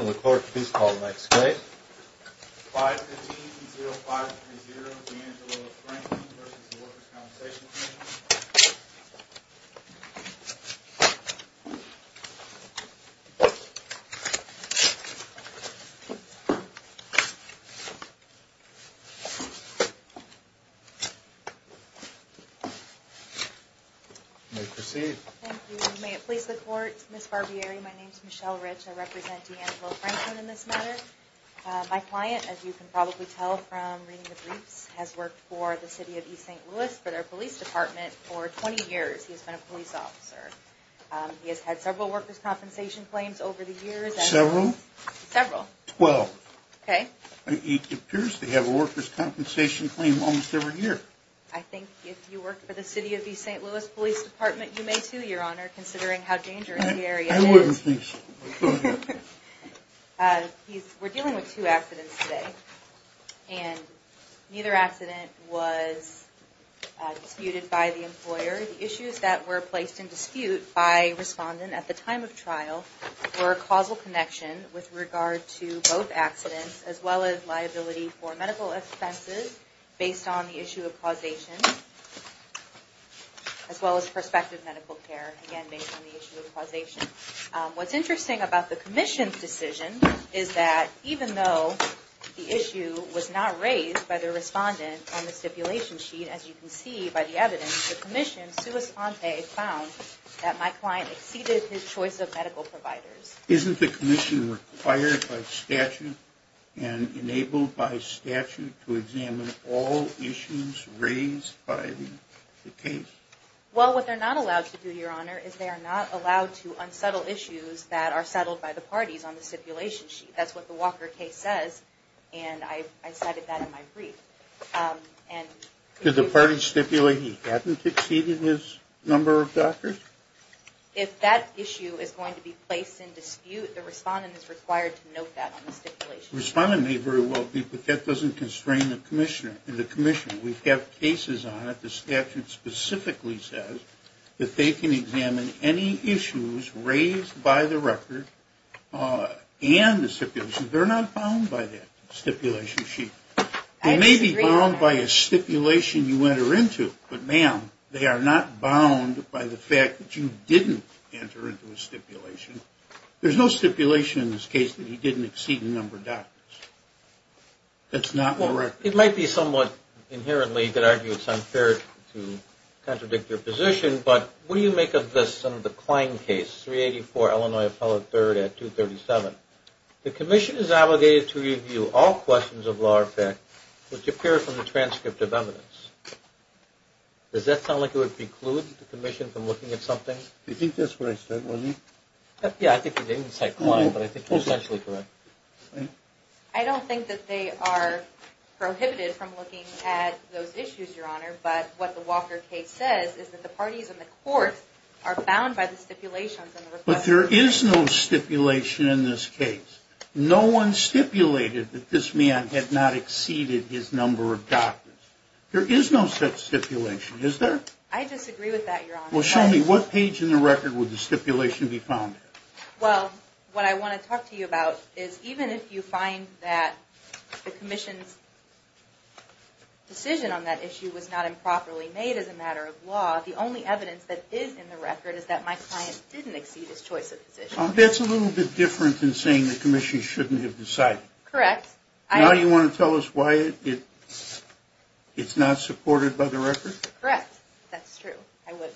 In the court, please call the next case. 515-0530, D'Angelo Franklin v. Workers' Compensation Comm'n. You may proceed. Thank you. May it please the court, Ms. Barbieri, my name's Michelle Rich. I represent D'Angelo Franklin in this matter. My client, as you can probably tell from reading the briefs, has worked for the City of East St. Louis for their police department for 20 years. He's been a police officer. He has had several workers' compensation claims over the years. Several? Several. Twelve. Okay. He appears to have a workers' compensation claim almost every year. I think if you worked for the City of East St. Louis Police Department, you may too, Your Honor, considering how dangerous the area is. I wouldn't think so. We're dealing with two accidents today. And neither accident was disputed by the employer. The issues that were placed in dispute by respondent at the time of trial were a causal connection with regard to both accidents, as well as liability for medical expenses based on the issue of causation, as well as prospective medical care, again, based on the issue of causation. What's interesting about the commission's decision is that even though the issue was not raised by the respondent on the stipulation sheet, as you can see by the evidence, the commission, sua sante, found that my client exceeded his choice of medical providers. Isn't the commission required by statute and enabled by statute to examine all issues raised by the case? Well, what they're not allowed to do, Your Honor, is they are not allowed to unsettle issues that are settled by the parties on the stipulation sheet. That's what the Walker case says, and I cited that in my brief. Did the parties stipulate he hadn't exceeded his number of doctors? If that issue is going to be placed in dispute, the respondent may very well be, but that doesn't constrain the commissioner. In the commission, we have cases on it, the statute specifically says that they can examine any issues raised by the record and the stipulation. They're not bound by that stipulation sheet. They may be bound by a stipulation you enter into, but ma'am, they are not bound by the fact that you didn't enter into a stipulation. There's no stipulation in this case that he didn't exceed the number of doctors. That's not in the record. It might be somewhat inherently, you could argue it's unfair to contradict your position, but what do you make of this, some of the Klein case, 384 Illinois Appellate 3rd at 237? The commission is obligated to review all questions of law or fact which appear from the transcript of evidence. Does that sound like it would preclude the commission from looking at something? You think that's what I said, wasn't it? Yeah, I think you didn't say Klein, but I think you're essentially correct. I don't think that they are prohibited from looking at those issues, Your Honor, but what the Walker case says is that the parties in the court are bound by the stipulations. But there is no stipulation in this case. No one stipulated that this man had not exceeded his number of doctors. There is no such stipulation, is there? I disagree with that, Your Honor. Well, show me what page in the record would the stipulation be found in? Well, what I want to talk to you about is even if you find that the commission's decision on that issue was not improperly made as a matter of law, the only evidence that is in the record is that my client didn't exceed his choice of position. That's a little bit different than saying the commission shouldn't have decided. Correct. Now you want to tell us why it's not supported by the record? Correct. That's true. I would.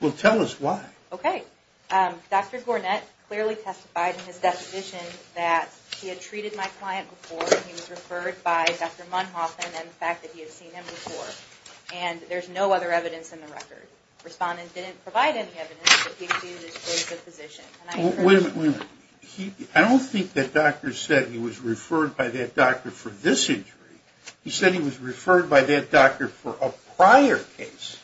Well, tell us why. Okay. Dr. Gornett clearly testified in his deposition that he had treated my client before and he was referred by Dr. Monhoffman and the fact that he had seen him before. And there's no other evidence in the record. Respondent didn't provide any evidence that he exceeded his choice of position. Wait a minute. I don't think that doctor said he was referred by that doctor for this injury. He said he was referred by that doctor for a prior case.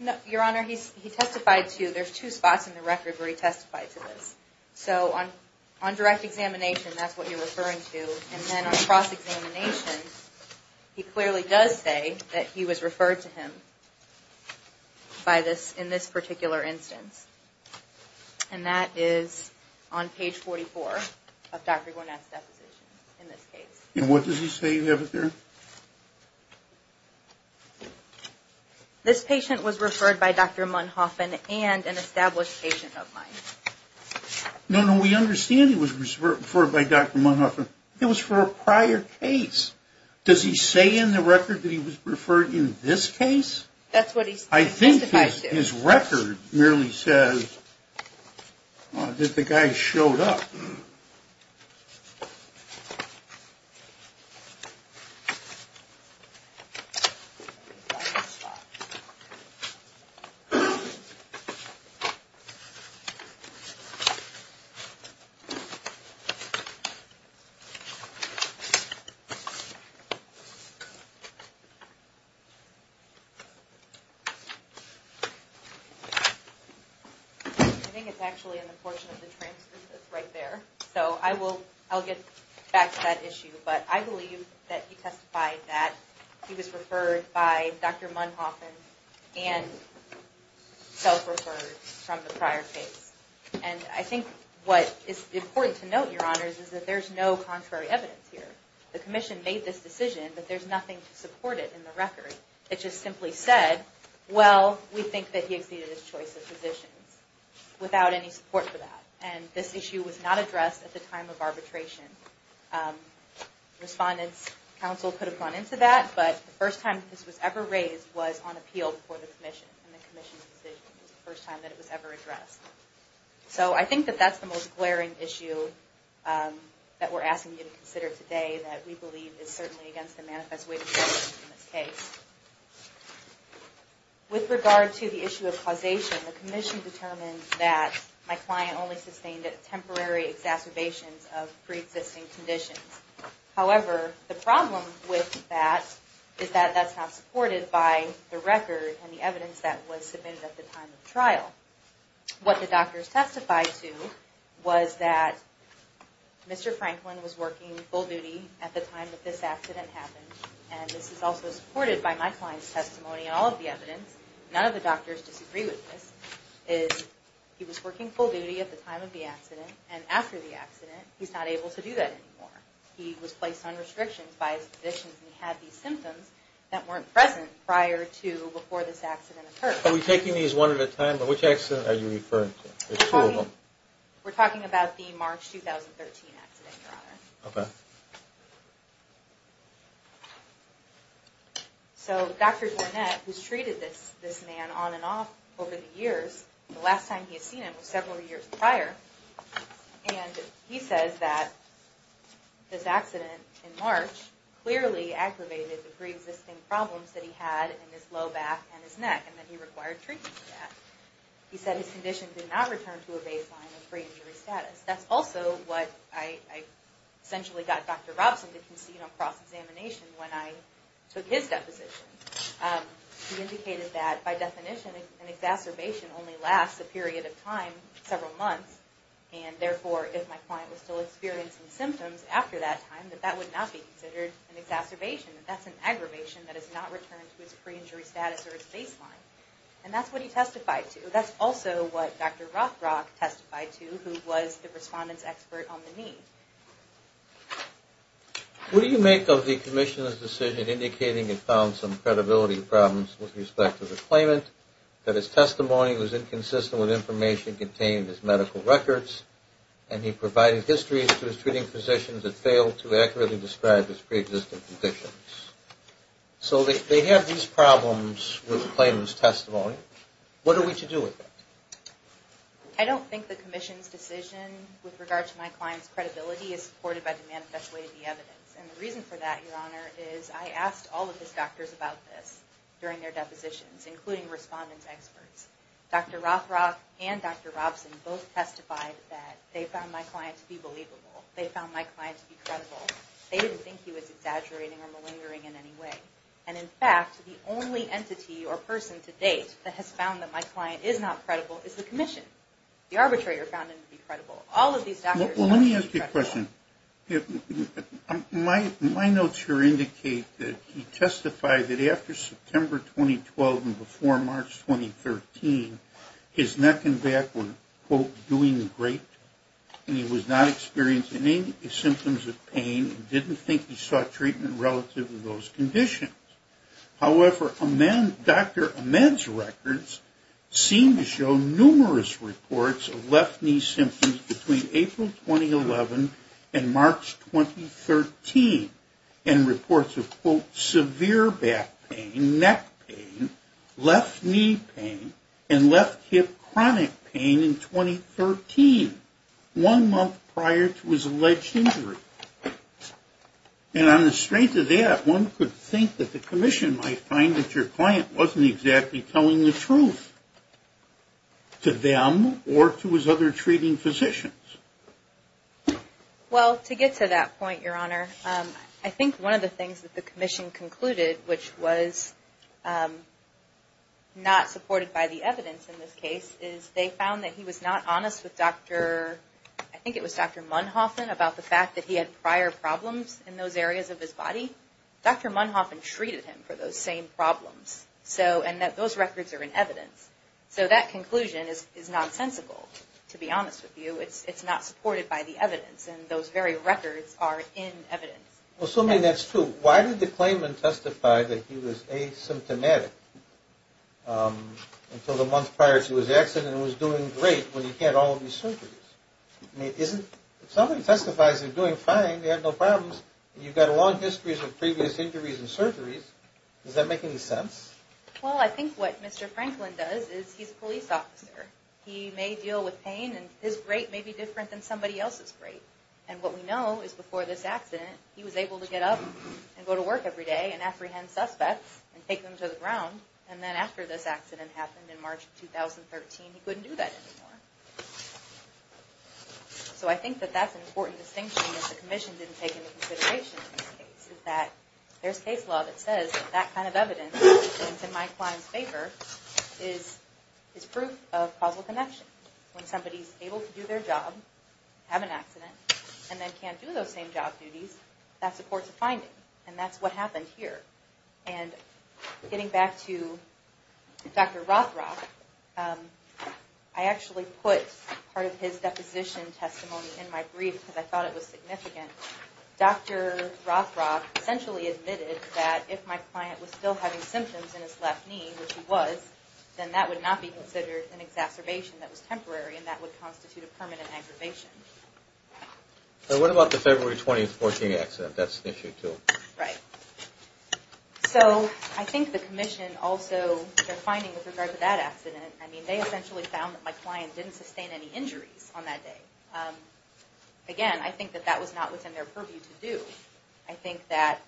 No, Your Honor. He testified to, there's two spots in the record where he testified to this. So on direct examination, that's what you're referring to. And then on cross-examination, he clearly does say that he was referred to him by this, in this particular instance. And that is on page 44 of Dr. Gornett's deposition in this case. And what does he say you have up there? This patient was referred by Dr. Monhoffman and an established patient of mine. No, no. We understand he was referred by Dr. Monhoffman. It was for a prior case. Does he say in the record that he was referred in this case? That's what he testified to. His record merely says that the guy showed up. I think it's actually in the portion of the transcript that's right there. So I will, I'll get back to that issue. But I believe that he testified that he was referred by Dr. Monhoffman and self-referred from the prior case. And I think what is important to note, Your Honors, is that there's no contrary evidence here. The Commission made this decision, but there's nothing to support it in the record. It just simply said, well, we think that he exceeded his choice of physicians without any support for that. And this issue was not addressed at the time of arbitration. Respondents, counsel could have gone into that, but the first time this was ever raised was on appeal before the Commission. And the Commission's decision was the first time that it was ever addressed. So I think that that's the most glaring issue that we're asking you to consider today that we believe is certainly against the manifest witness in this case. With regard to the issue of causation, the Commission determined that my client only sustained a temporary exacerbation of pre-existing conditions. However, the problem with that is that that's not supported by the record and the evidence that was submitted at the time of trial. What the doctors testified to was that Mr. Franklin was working full duty at the time that this accident happened. And this is also supported by my client's testimony and all of the evidence. None of the doctors disagree with this. He was working full duty at the time of the accident, and after the accident, he's not able to do that anymore. He was placed on restrictions by his physicians, and he had these symptoms that weren't present prior to, before this accident occurred. Are we taking these one at a time, but which accident are you referring to? There's two of them. We're talking about the March 2013 accident, Your Honor. Okay. So Dr. Dornette, who's treated this man on and off over the years, the last time he's seen him was several years prior. And he says that this accident in March clearly aggravated the pre-existing problems that he had in his low back and his neck. And that he required treatment for that. He said his condition did not return to a baseline of pre-injury status. That's also what I essentially got Dr. Robson to concede on cross-examination when I took his deposition. He indicated that, by definition, an exacerbation only lasts a period of time, several months. And therefore, if my client was still experiencing symptoms after that time, that that would not be considered an exacerbation. That's an aggravation that has not returned to its pre-injury status or its baseline. And that's what he testified to. That's also what Dr. Rothrock testified to, who was the respondent's expert on the need. What do you make of the Commission's decision indicating it found some credibility problems with respect to the claimant, that his testimony was inconsistent with information contained in his medical records, and he provided histories to his treating physicians that failed to accurately describe his pre-existing conditions? So they have these problems with the claimant's testimony. What are we to do with that? I don't think the Commission's decision with regard to my client's credibility is supported by the manifest way of the evidence. And the reason for that, Your Honor, is I asked all of his doctors about this during their depositions, including respondent's experts. Dr. Rothrock and Dr. Robson both testified that they found my client to be believable. They found my client to be credible. They didn't think he was exaggerating or malingering in any way. And in fact, the only entity or person to date that has found that my client is not credible is the Commission. The arbitrator found him to be credible. All of these doctors found him to be credible. Let me ask you a question. My notes here indicate that he testified that after September 2012 and before March 2013, his neck and back were, quote, doing great, and he was not experiencing any symptoms of pain and didn't think he sought treatment relative to those conditions. However, Dr. Ahmed's records seem to show numerous reports of left knee symptoms between April 2011 and March 2013. And reports of, quote, severe back pain, neck pain, left knee pain, and left hip chronic pain in 2013, one month prior to his alleged injury. And on the strength of that, one could think that the Commission might find that your client wasn't exactly telling the truth to them or to his other treating physicians. Well, to get to that point, Your Honor, I think one of the things that the Commission concluded, which was not supported by the evidence in this case, is they found that he was not honest with Dr., I think it was Dr. Munhoffin, about the fact that he had prior problems in those areas of his body. Dr. Munhoffin treated him for those same problems. So, and that those records are in evidence. So that conclusion is nonsensical, to be honest with you. It's not supported by the evidence, and those very records are in evidence. Well, so, I mean, that's true. Why did the claimant testify that he was asymptomatic until the month prior to his accident and was doing great when he had all of these surgeries? I mean, isn't, if somebody testifies they're doing fine, they have no problems, and you've got long histories of previous injuries and surgeries. Does that make any sense? Well, I think what Mr. Franklin does is he's a police officer. He may deal with pain, and his great may be different than somebody else's great. And what we know is before this accident, he was able to get up and go to work every day and apprehend suspects and take them to the ground. And then after this accident happened in March of 2013, he couldn't do that anymore. So I think that that's an important distinction that the Commission didn't take into consideration in this case, is that there's case law that says that that kind of evidence, which is in my client's favor, is proof of causal connection. When somebody's able to do their job, have an accident, and then can't do those same job duties, that supports a finding. And that's what happened here. And getting back to Dr. Rothrock, I actually put part of his deposition testimony in my brief because I thought it was significant. Dr. Rothrock essentially admitted that if my client was still having symptoms in his left knee, which he was, then that would not be considered an exacerbation that was temporary and that would constitute a permanent aggravation. So what about the February 20, 2014 accident? That's an issue, too. Right. So I think the Commission also, their finding with regard to that accident, I mean, they essentially found that my client didn't sustain any injuries on that day. Again, I think that that was not within their purview to do. I think that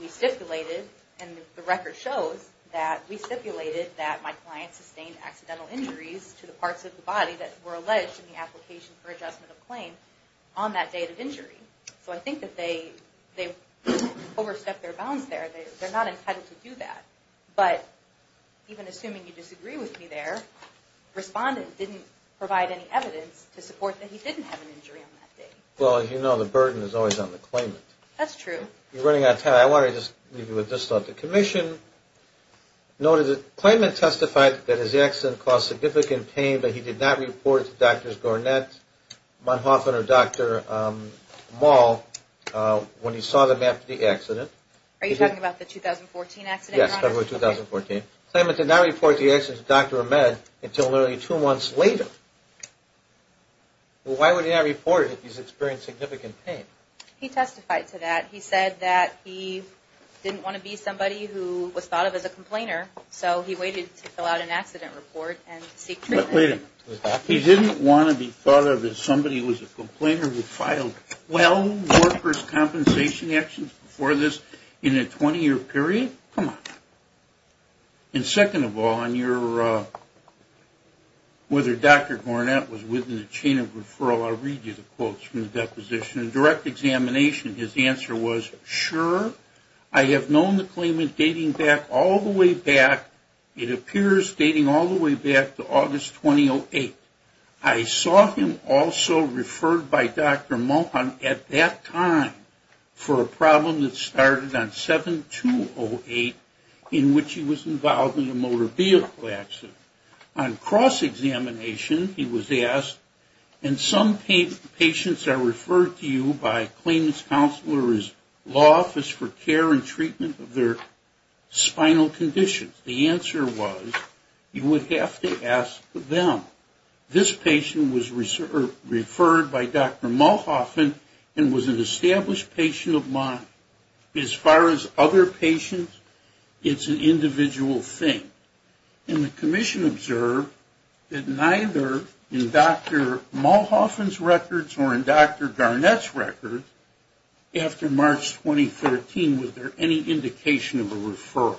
we stipulated, and the record shows that we stipulated that my client sustained accidental injuries to the parts of the body that were alleged in the application for adjustment of claim on that date of injury. So I think that they overstepped their bounds there. They're not entitled to do that. But even assuming you disagree with me there, respondent didn't provide any evidence to support that he didn't have an injury on that day. Well, as you know, the burden is always on the claimant. That's true. We're running out of time. I want to just leave you with this thought. The Commission noted that the claimant testified that his accident caused significant pain but he did not report it to Drs. Gornett, Monhoffin, or Dr. Mall when he saw them after the accident. Are you talking about the 2014 accident? Yes, February 2014. The claimant did not report the accident to Dr. Ahmed until literally two months later. Why would he not report it if he's experienced significant pain? He testified to that. He said that he didn't want to be somebody who was thought of as a complainer so he waited to fill out an accident report and seek treatment. Wait a minute. He didn't want to be thought of as somebody who was a complainer who filed well workers' compensation actions before this in a 20-year period? Come on. And second of all, whether Dr. Gornett was within the chain of referral, I'll read you the quotes from the deposition. In direct examination, his answer was, Sure. I have known the claimant dating back all the way back. It appears dating all the way back to August 2008. I saw him also referred by Dr. Monhoffin at that time for a problem that started on 7-2-0-8 in which he was involved in a motor vehicle accident. On cross-examination, he was asked, And some patients are referred to you by a claimant's counselor's law office for care and treatment of their spinal conditions. The answer was, You would have to ask them. This patient was referred by Dr. Monhoffin and was an established patient of mine. As far as other patients, it's an individual thing. And the commission observed that neither in Dr. Monhoffin's records or in Dr. Gornett's records, after March 2013, was there any indication of a referral.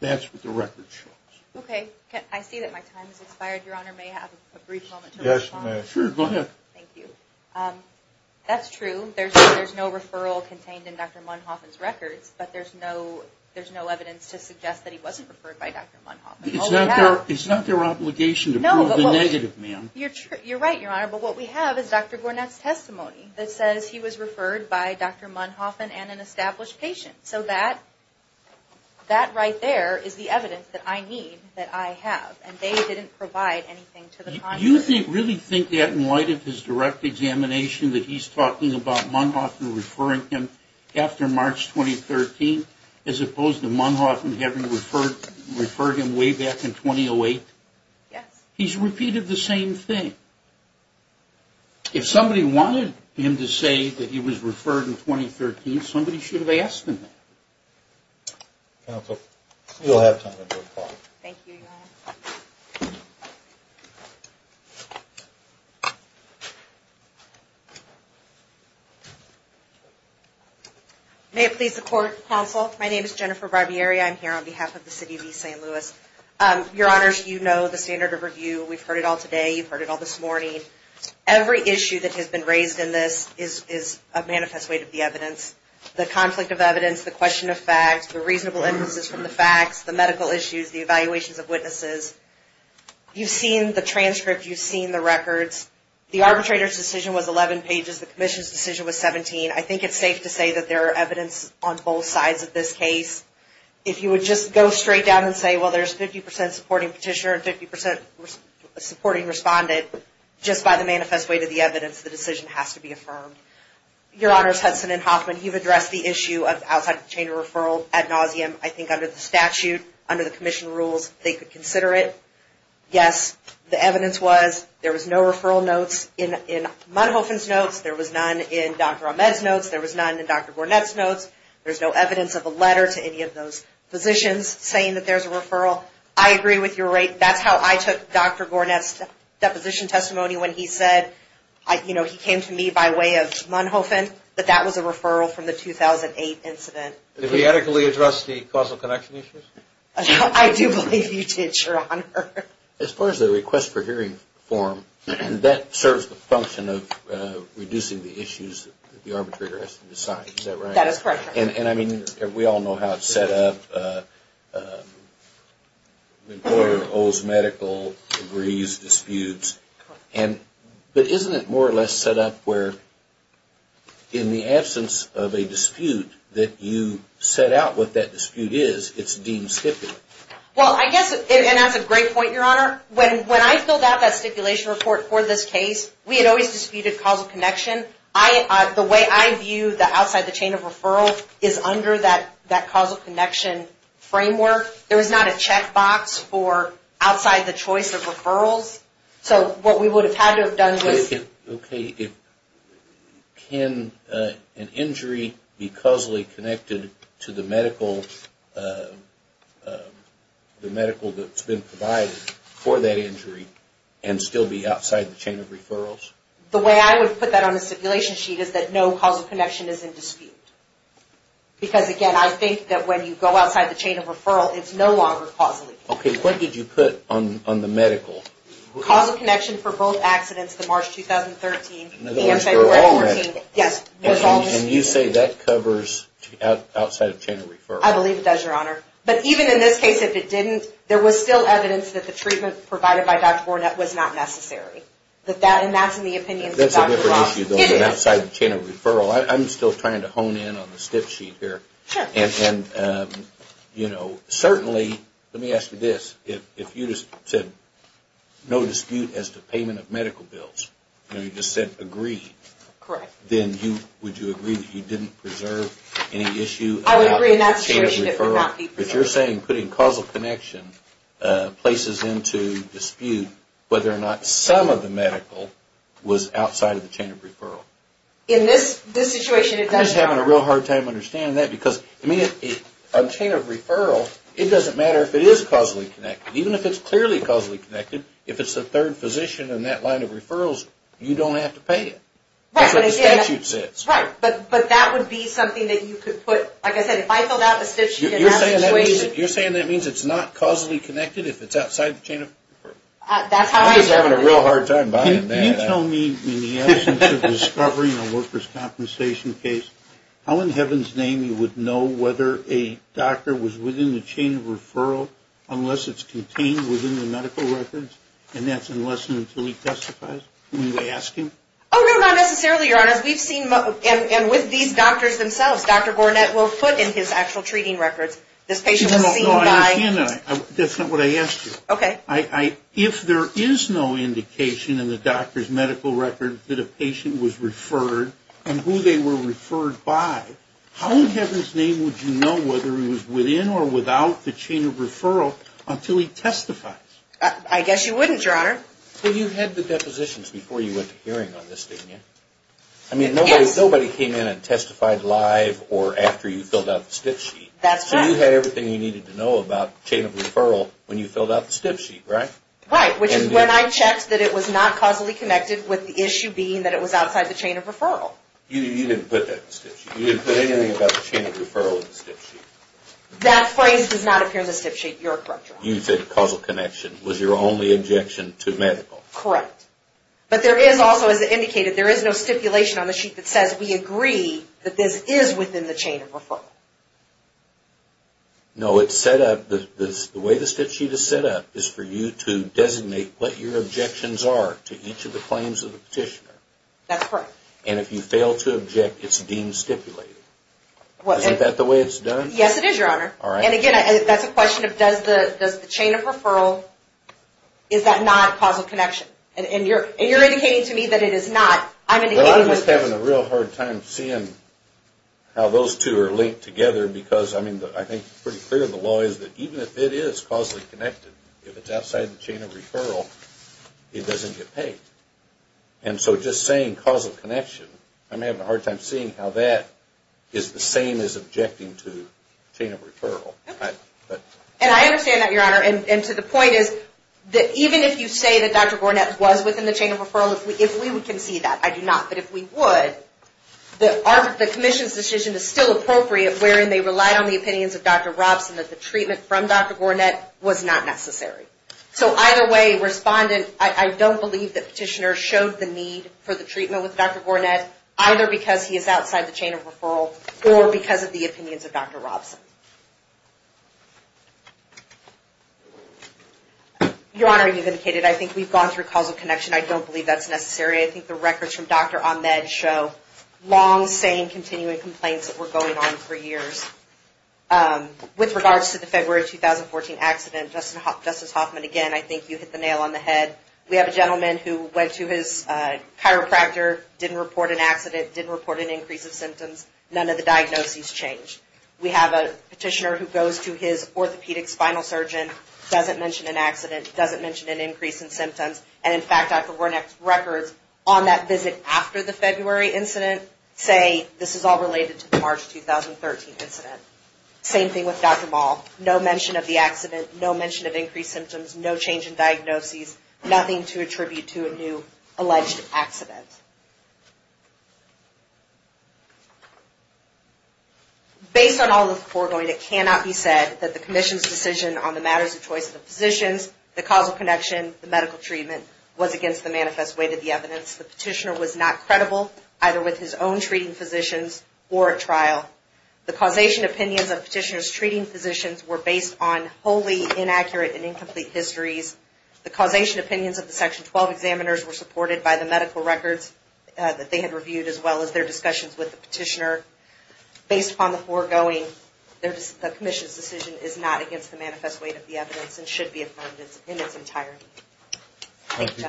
That's what the record shows. Okay. I see that my time has expired. Your Honor may have a brief moment to respond. Yes, you may. Sure, go ahead. Thank you. That's true. There's no referral contained in Dr. Monhoffin's records, but there's no evidence to suggest that he wasn't referred by Dr. Monhoffin. It's not their obligation to prove the negative, ma'am. You're right, Your Honor. But what we have is Dr. Gornett's testimony that says he was referred by Dr. Monhoffin and an established patient. So that right there is the evidence that I need, that I have. And they didn't provide anything to the contrary. Do you really think that, in light of his direct examination, that he's talking about Monhoffin referring him after March 2013, as opposed to Monhoffin having referred him way back in 2008? Yes. He's repeated the same thing. If somebody wanted him to say that he was referred in 2013, somebody should have asked him that. Counsel, you'll have time to respond. Thank you, Your Honor. May it please the Court, Counsel. My name is Jennifer Barbieri. I'm here on behalf of the City of East St. Louis. Your Honors, you know the standard of review. We've heard it all today. You've heard it all this morning. Every issue that has been raised in this is a manifest way to be evidence. The conflict of evidence, the question of facts, the reasonable emphasis from the facts, the medical issues, the evaluations of witnesses. You've seen the transcript. You've seen the records. The arbitrator's decision was 11 pages. The commission's decision was 17. I think it's safe to say that there are evidence on both sides of this case. If you would just go straight down and say, well, there's 50% supporting petitioner and 50% supporting respondent, just by the manifest way to the evidence, the decision has to be affirmed. Your Honors, Hudson and Hoffman, you've addressed the issue of outside the chain of referral ad nauseum. I think under the statute, under the commission rules, they could consider it. Yes, the evidence was there was no referral notes in Munhofen's notes. There was none in Dr. Ahmed's notes. There was none in Dr. Gornet's notes. There's no evidence of a letter to any of those physicians saying that there's a referral. I agree with your rate. That's how I took Dr. Gornet's deposition testimony when he said, you know, he came to me by way of Munhofen, that that was a referral from the 2008 incident. Did we adequately address the causal connection issues? I do believe you did, Your Honor. As far as the request for hearing form, that serves the function of reducing the issues that the arbitrator has to decide. Is that right? That is correct, Your Honor. And I mean, we all know how it's set up. The employer owes medical degrees, disputes, but isn't it more or less set up where in the absence of a dispute that you set out what that dispute is, it's deemed stipulated? Well, I guess, and that's a great point, Your Honor. When I filled out that stipulation report for this case, we had always disputed causal connection. The way I view that outside the chain of referral is under that causal connection framework. There is not a checkbox for outside the choice of referrals. So what we would have had to have done was... Okay. If... Can an injury be causally connected to the medical... the medical that's been provided for that injury and still be outside the chain of referrals? The way I would put that on the stipulation sheet is that no causal connection is in dispute. Because, again, I think that when you go outside the chain of referral it's no longer causally connected. Okay. What did you put on the medical? Causal connection for both accidents to March 2013 and February 14. Yes. And you say that covers outside the chain of referral? I believe it does, Your Honor. But even in this case if it didn't, there was still evidence that the treatment provided by Dr. Bourne was not necessary. And that's in the opinions of Dr. Ross. That's a different issue than outside the chain of referral. I'm still trying to hone in on the stip sheet here. Sure. And, you know, certainly, let me ask you this, if you just said no dispute as to payment and you just said agree... Correct. ...then would you agree that you didn't preserve any issue about the chain of referral? I would agree in that situation it would not be preserved. If you're saying putting causal connection places into dispute whether or not some of the medical was outside the chain of referral. In this situation it doesn't matter. I'm just having a real hard time understanding that because, I mean, a chain of referral it doesn't matter if it is causally connected. Even if it's clearly causally connected if it's the third physician in that line of referrals you don't have to pay it. Right. That's what the statute says. Right. But that would be something that you could put like I said if I filled out the stip sheet in that situation... You're saying that means it's not causally connected if it's outside the chain of referral. That's how I... I'm just having a real hard time buying into that. Can you tell me in the absence of discovering a workers' compensation case how in heaven's name you would know whether a doctor was within the chain of referral unless it's contained within the medical records and that's unless and until he testifies? Can you ask him? Oh no, not necessarily, Your Honor. We've seen and with these doctors themselves Dr. Gornet will put in his actual treating records this patient was seen by... If there is no indication in the doctor's medical records that a patient was referred and who they were referred by how in heaven's name would you know whether he was within or without the chain of referral until he testifies? I guess you wouldn't, Your Honor. But you had the depositions before you went to hearing on this thing, yeah? I mean nobody came in and testified live or after you filled out the stip sheet. That's right. So you had everything you needed to know about the chain of referral when you filled out the stip sheet, right? Right, which is when I checked that it was not causally connected with the issue being that it was outside the chain of referral. You didn't put that in the stip sheet. You didn't put anything about the chain of referral in the stip sheet. That phrase does not appear in the stip sheet, Your Honor. You said causal connection was your only objection to medical. Correct. But there is also, as indicated, there is no stipulation on the sheet that says we agree that this is within the chain of referral. No, it's set up, the way the stip sheet is set up is for you to designate what your objections are to each of the claims of the petitioner. That's correct. And if you fail to object, it's deemed stipulated. Isn't that the way it's done? Yes, it is, Your Honor. All right. And again, that's a question of does the chain of referral, is that not causal connection? And you're indicating to me that it is not. Well, I'm just having a real hard time seeing how those two are linked together because, I mean, I think it's pretty clear in the law that even if it is causally connected, if it's outside the chain of referral, it doesn't get paid. And so just saying causal connection, I'm having a hard time seeing how that is the same as objecting to the chain of referral. And I understand that, Your Honor, and to the point is that even if you say that Dr. Gornet was within the chain of referral, if we would concede that, I do not, but if we would, the commission's decision is still appropriate wherein they relied on the opinions of Dr. Gornet that the treatment from Dr. Gornet was not necessary. So either way, Respondent, I don't believe that Petitioner showed the need for with Dr. Gornet, either because he is outside the chain of referral, or because of the opinions of Dr. Gornet. Your Honor, I have been hearing that for years. With regards to the February 2014 accident, Justice Hoffman, again, I think you hit the nail on the head. We have a gentleman who went to his chiropractor, didn't report an accident, didn't report an increase of symptoms. None of the diagnoses changed. We have a Petitioner who goes to his orthopedic surgeon, doesn't mention an accident, doesn't mention an increase in symptoms, and in fact, Dr. Gornet's records on that visit after the February incident say this is all related to the March 2013 incident. Same thing with Dr. Maul. No mention of the accident, no mention of increased symptoms, no change in diagnoses, nothing to attribute to a new alleged accident. Based on all of the foregoing, it cannot be said that the Commission's decision on the matters of choice physicians, the causal connection, the medical treatment, was against the manifest weight of the evidence. The Petitioner was not credible either with his testimony. The information opinions of the Section 12 examiners were supported by the medical records that they had reviewed as well as their discussions with the Petitioner. Based upon the foregoing, the Commission's decision is not against the manifest weight of the evidence and should be affirmed in its entirety. Thank you,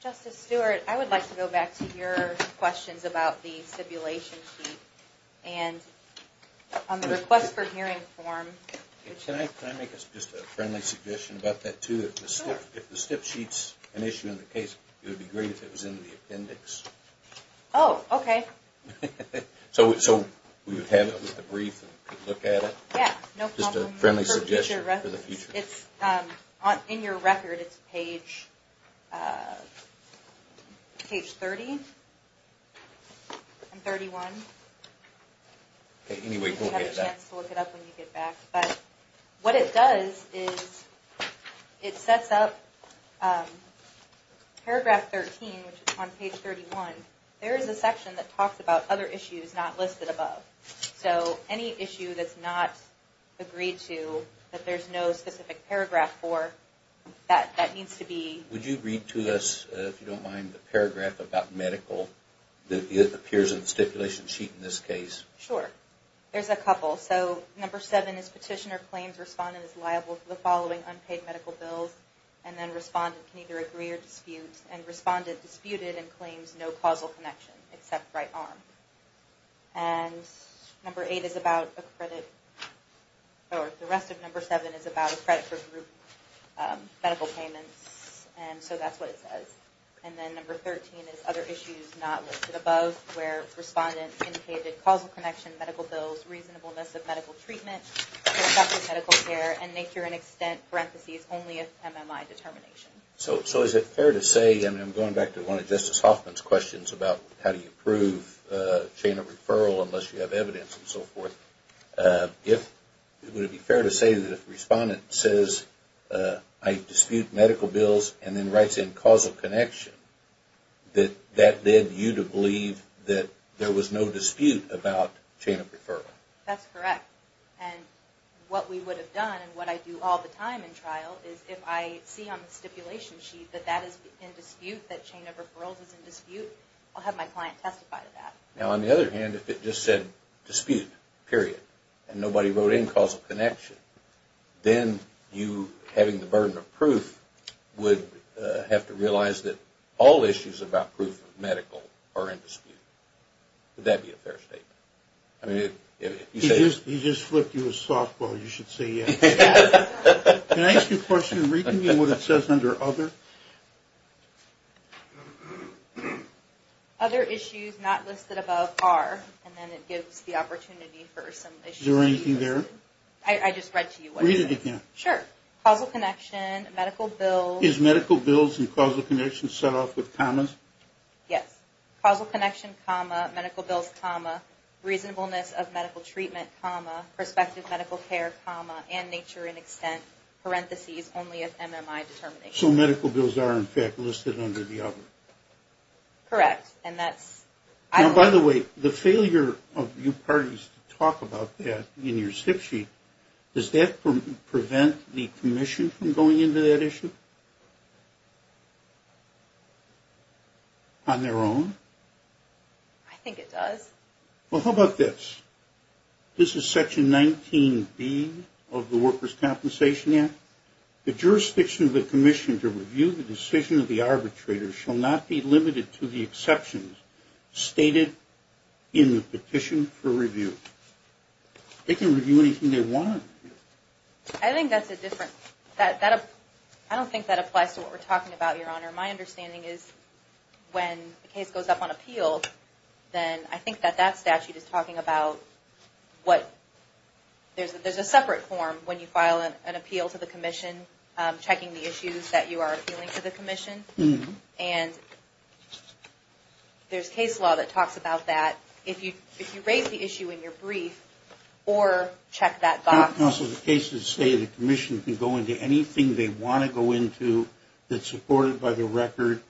Justice Stewart. I would like to go back to your questions about the stipulation sheet and on the request for hearing Can I make a friendly suggestion about that too? If the stip sheet is an issue in the case, it would be great if it was in the case. So we would have it with the brief and look at it? Yes, no problem. In your record, it's page 30 and 31. You have a chance to look it up when you get back. What it does is it sets up paragraph 13 on page 31. There is a section that talks about other issues not listed above. So any issue that's not agreed to that there's no specific paragraph for that needs to be listed. Would you read to us the paragraph about medical that appears in the stipulation sheet? Sure. There's a couple. Number 7 is petitioner claims respondent is liable for unpaid medical bills and respondent can either agree or dispute and respondent claims no causal connection except right arm. Number 8 is about credit for group medical payments so that's what it says. Number 13 is other issues not listed above where respondent indicated causal connection medical bills reasonableness of medical treatment medical care only if MMI determination. So is it fair to say I'm going back to one of Justice Hoffman's questions about how do you believe that there was no dispute about chain of referral? That's correct. And what we would have done and what I do all the time in trial is if I see on the stipulation sheet that that is in dispute I'll have my client testify to that. Now on the other hand if it just said dispute period and nobody wrote in causal connection then you having the burden of proof would have to realize that all the other issues not listed above are and then it gives the opportunity for some issues. Is there anything there? I just read to you. Read it again. Sure. Causal connection, medical bills. Is medical bills and causal connection set off with commas? Yes. Causal connection, medical bills, reasonableness of medical treatment, perspective medical care, and nature extent. So medical bills are listed under the other. Correct. By the way, the failure of you parties to talk about that in your petition on their own? I think it does. Well, how about this? This is section 19B of the Workers' Compensation Act. The jurisdiction of the commission to review the decision of the arbitrator shall not be limited to the exceptions stated in the statute. When the case goes up on appeal then I think that that statute is talking about what there's a separate form when you file an appeal to the commission checking the issues that you are appealing to the commission and there's case law that talks about that if you raise the issue in your brief or check that box. Counsel, the cases say the commission can go into anything they want to go into that's supported by the record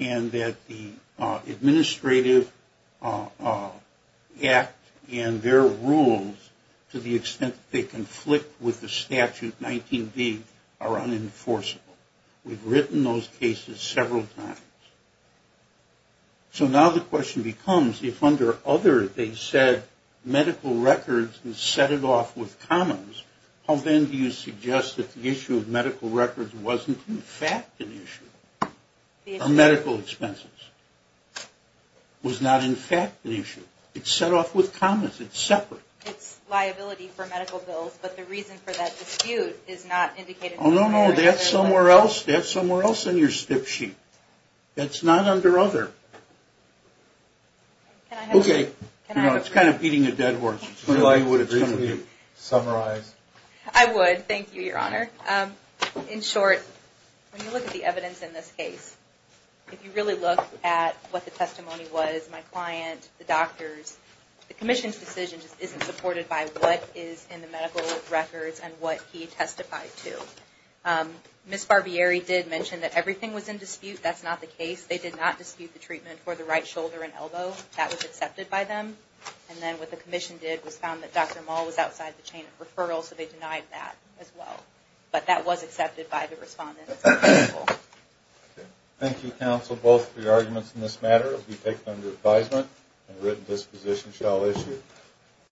and that the administrative act and their rules to the extent that they have medical records and set it off with commons how then do you suggest that the issue of medical records wasn't in fact an issue or medical expenses was not in fact an issue it's set off with commons it's separate it's liability for medical bills but the reason for that dispute is not indicated somewhere else that's not under other it's kind of beating a dead horse I would thank you your honor in short when you look at the evidence in this case if you really look at what the testimony was my client the doctors the commission's decision isn't supported by what is in the medical records and what he testified to Ms. Barbieri did mention that everything was in dispute that's not the case they did not dispute the treatment for the right shoulder and elbow that was accepted by them and then what the commission did was found that Dr. Moll was outside the chain of referral so they denied that as well but that was accepted by the respondent counsel both for your arguments in this matter it will be taken under advisement and written disposition shall issue thank you counsel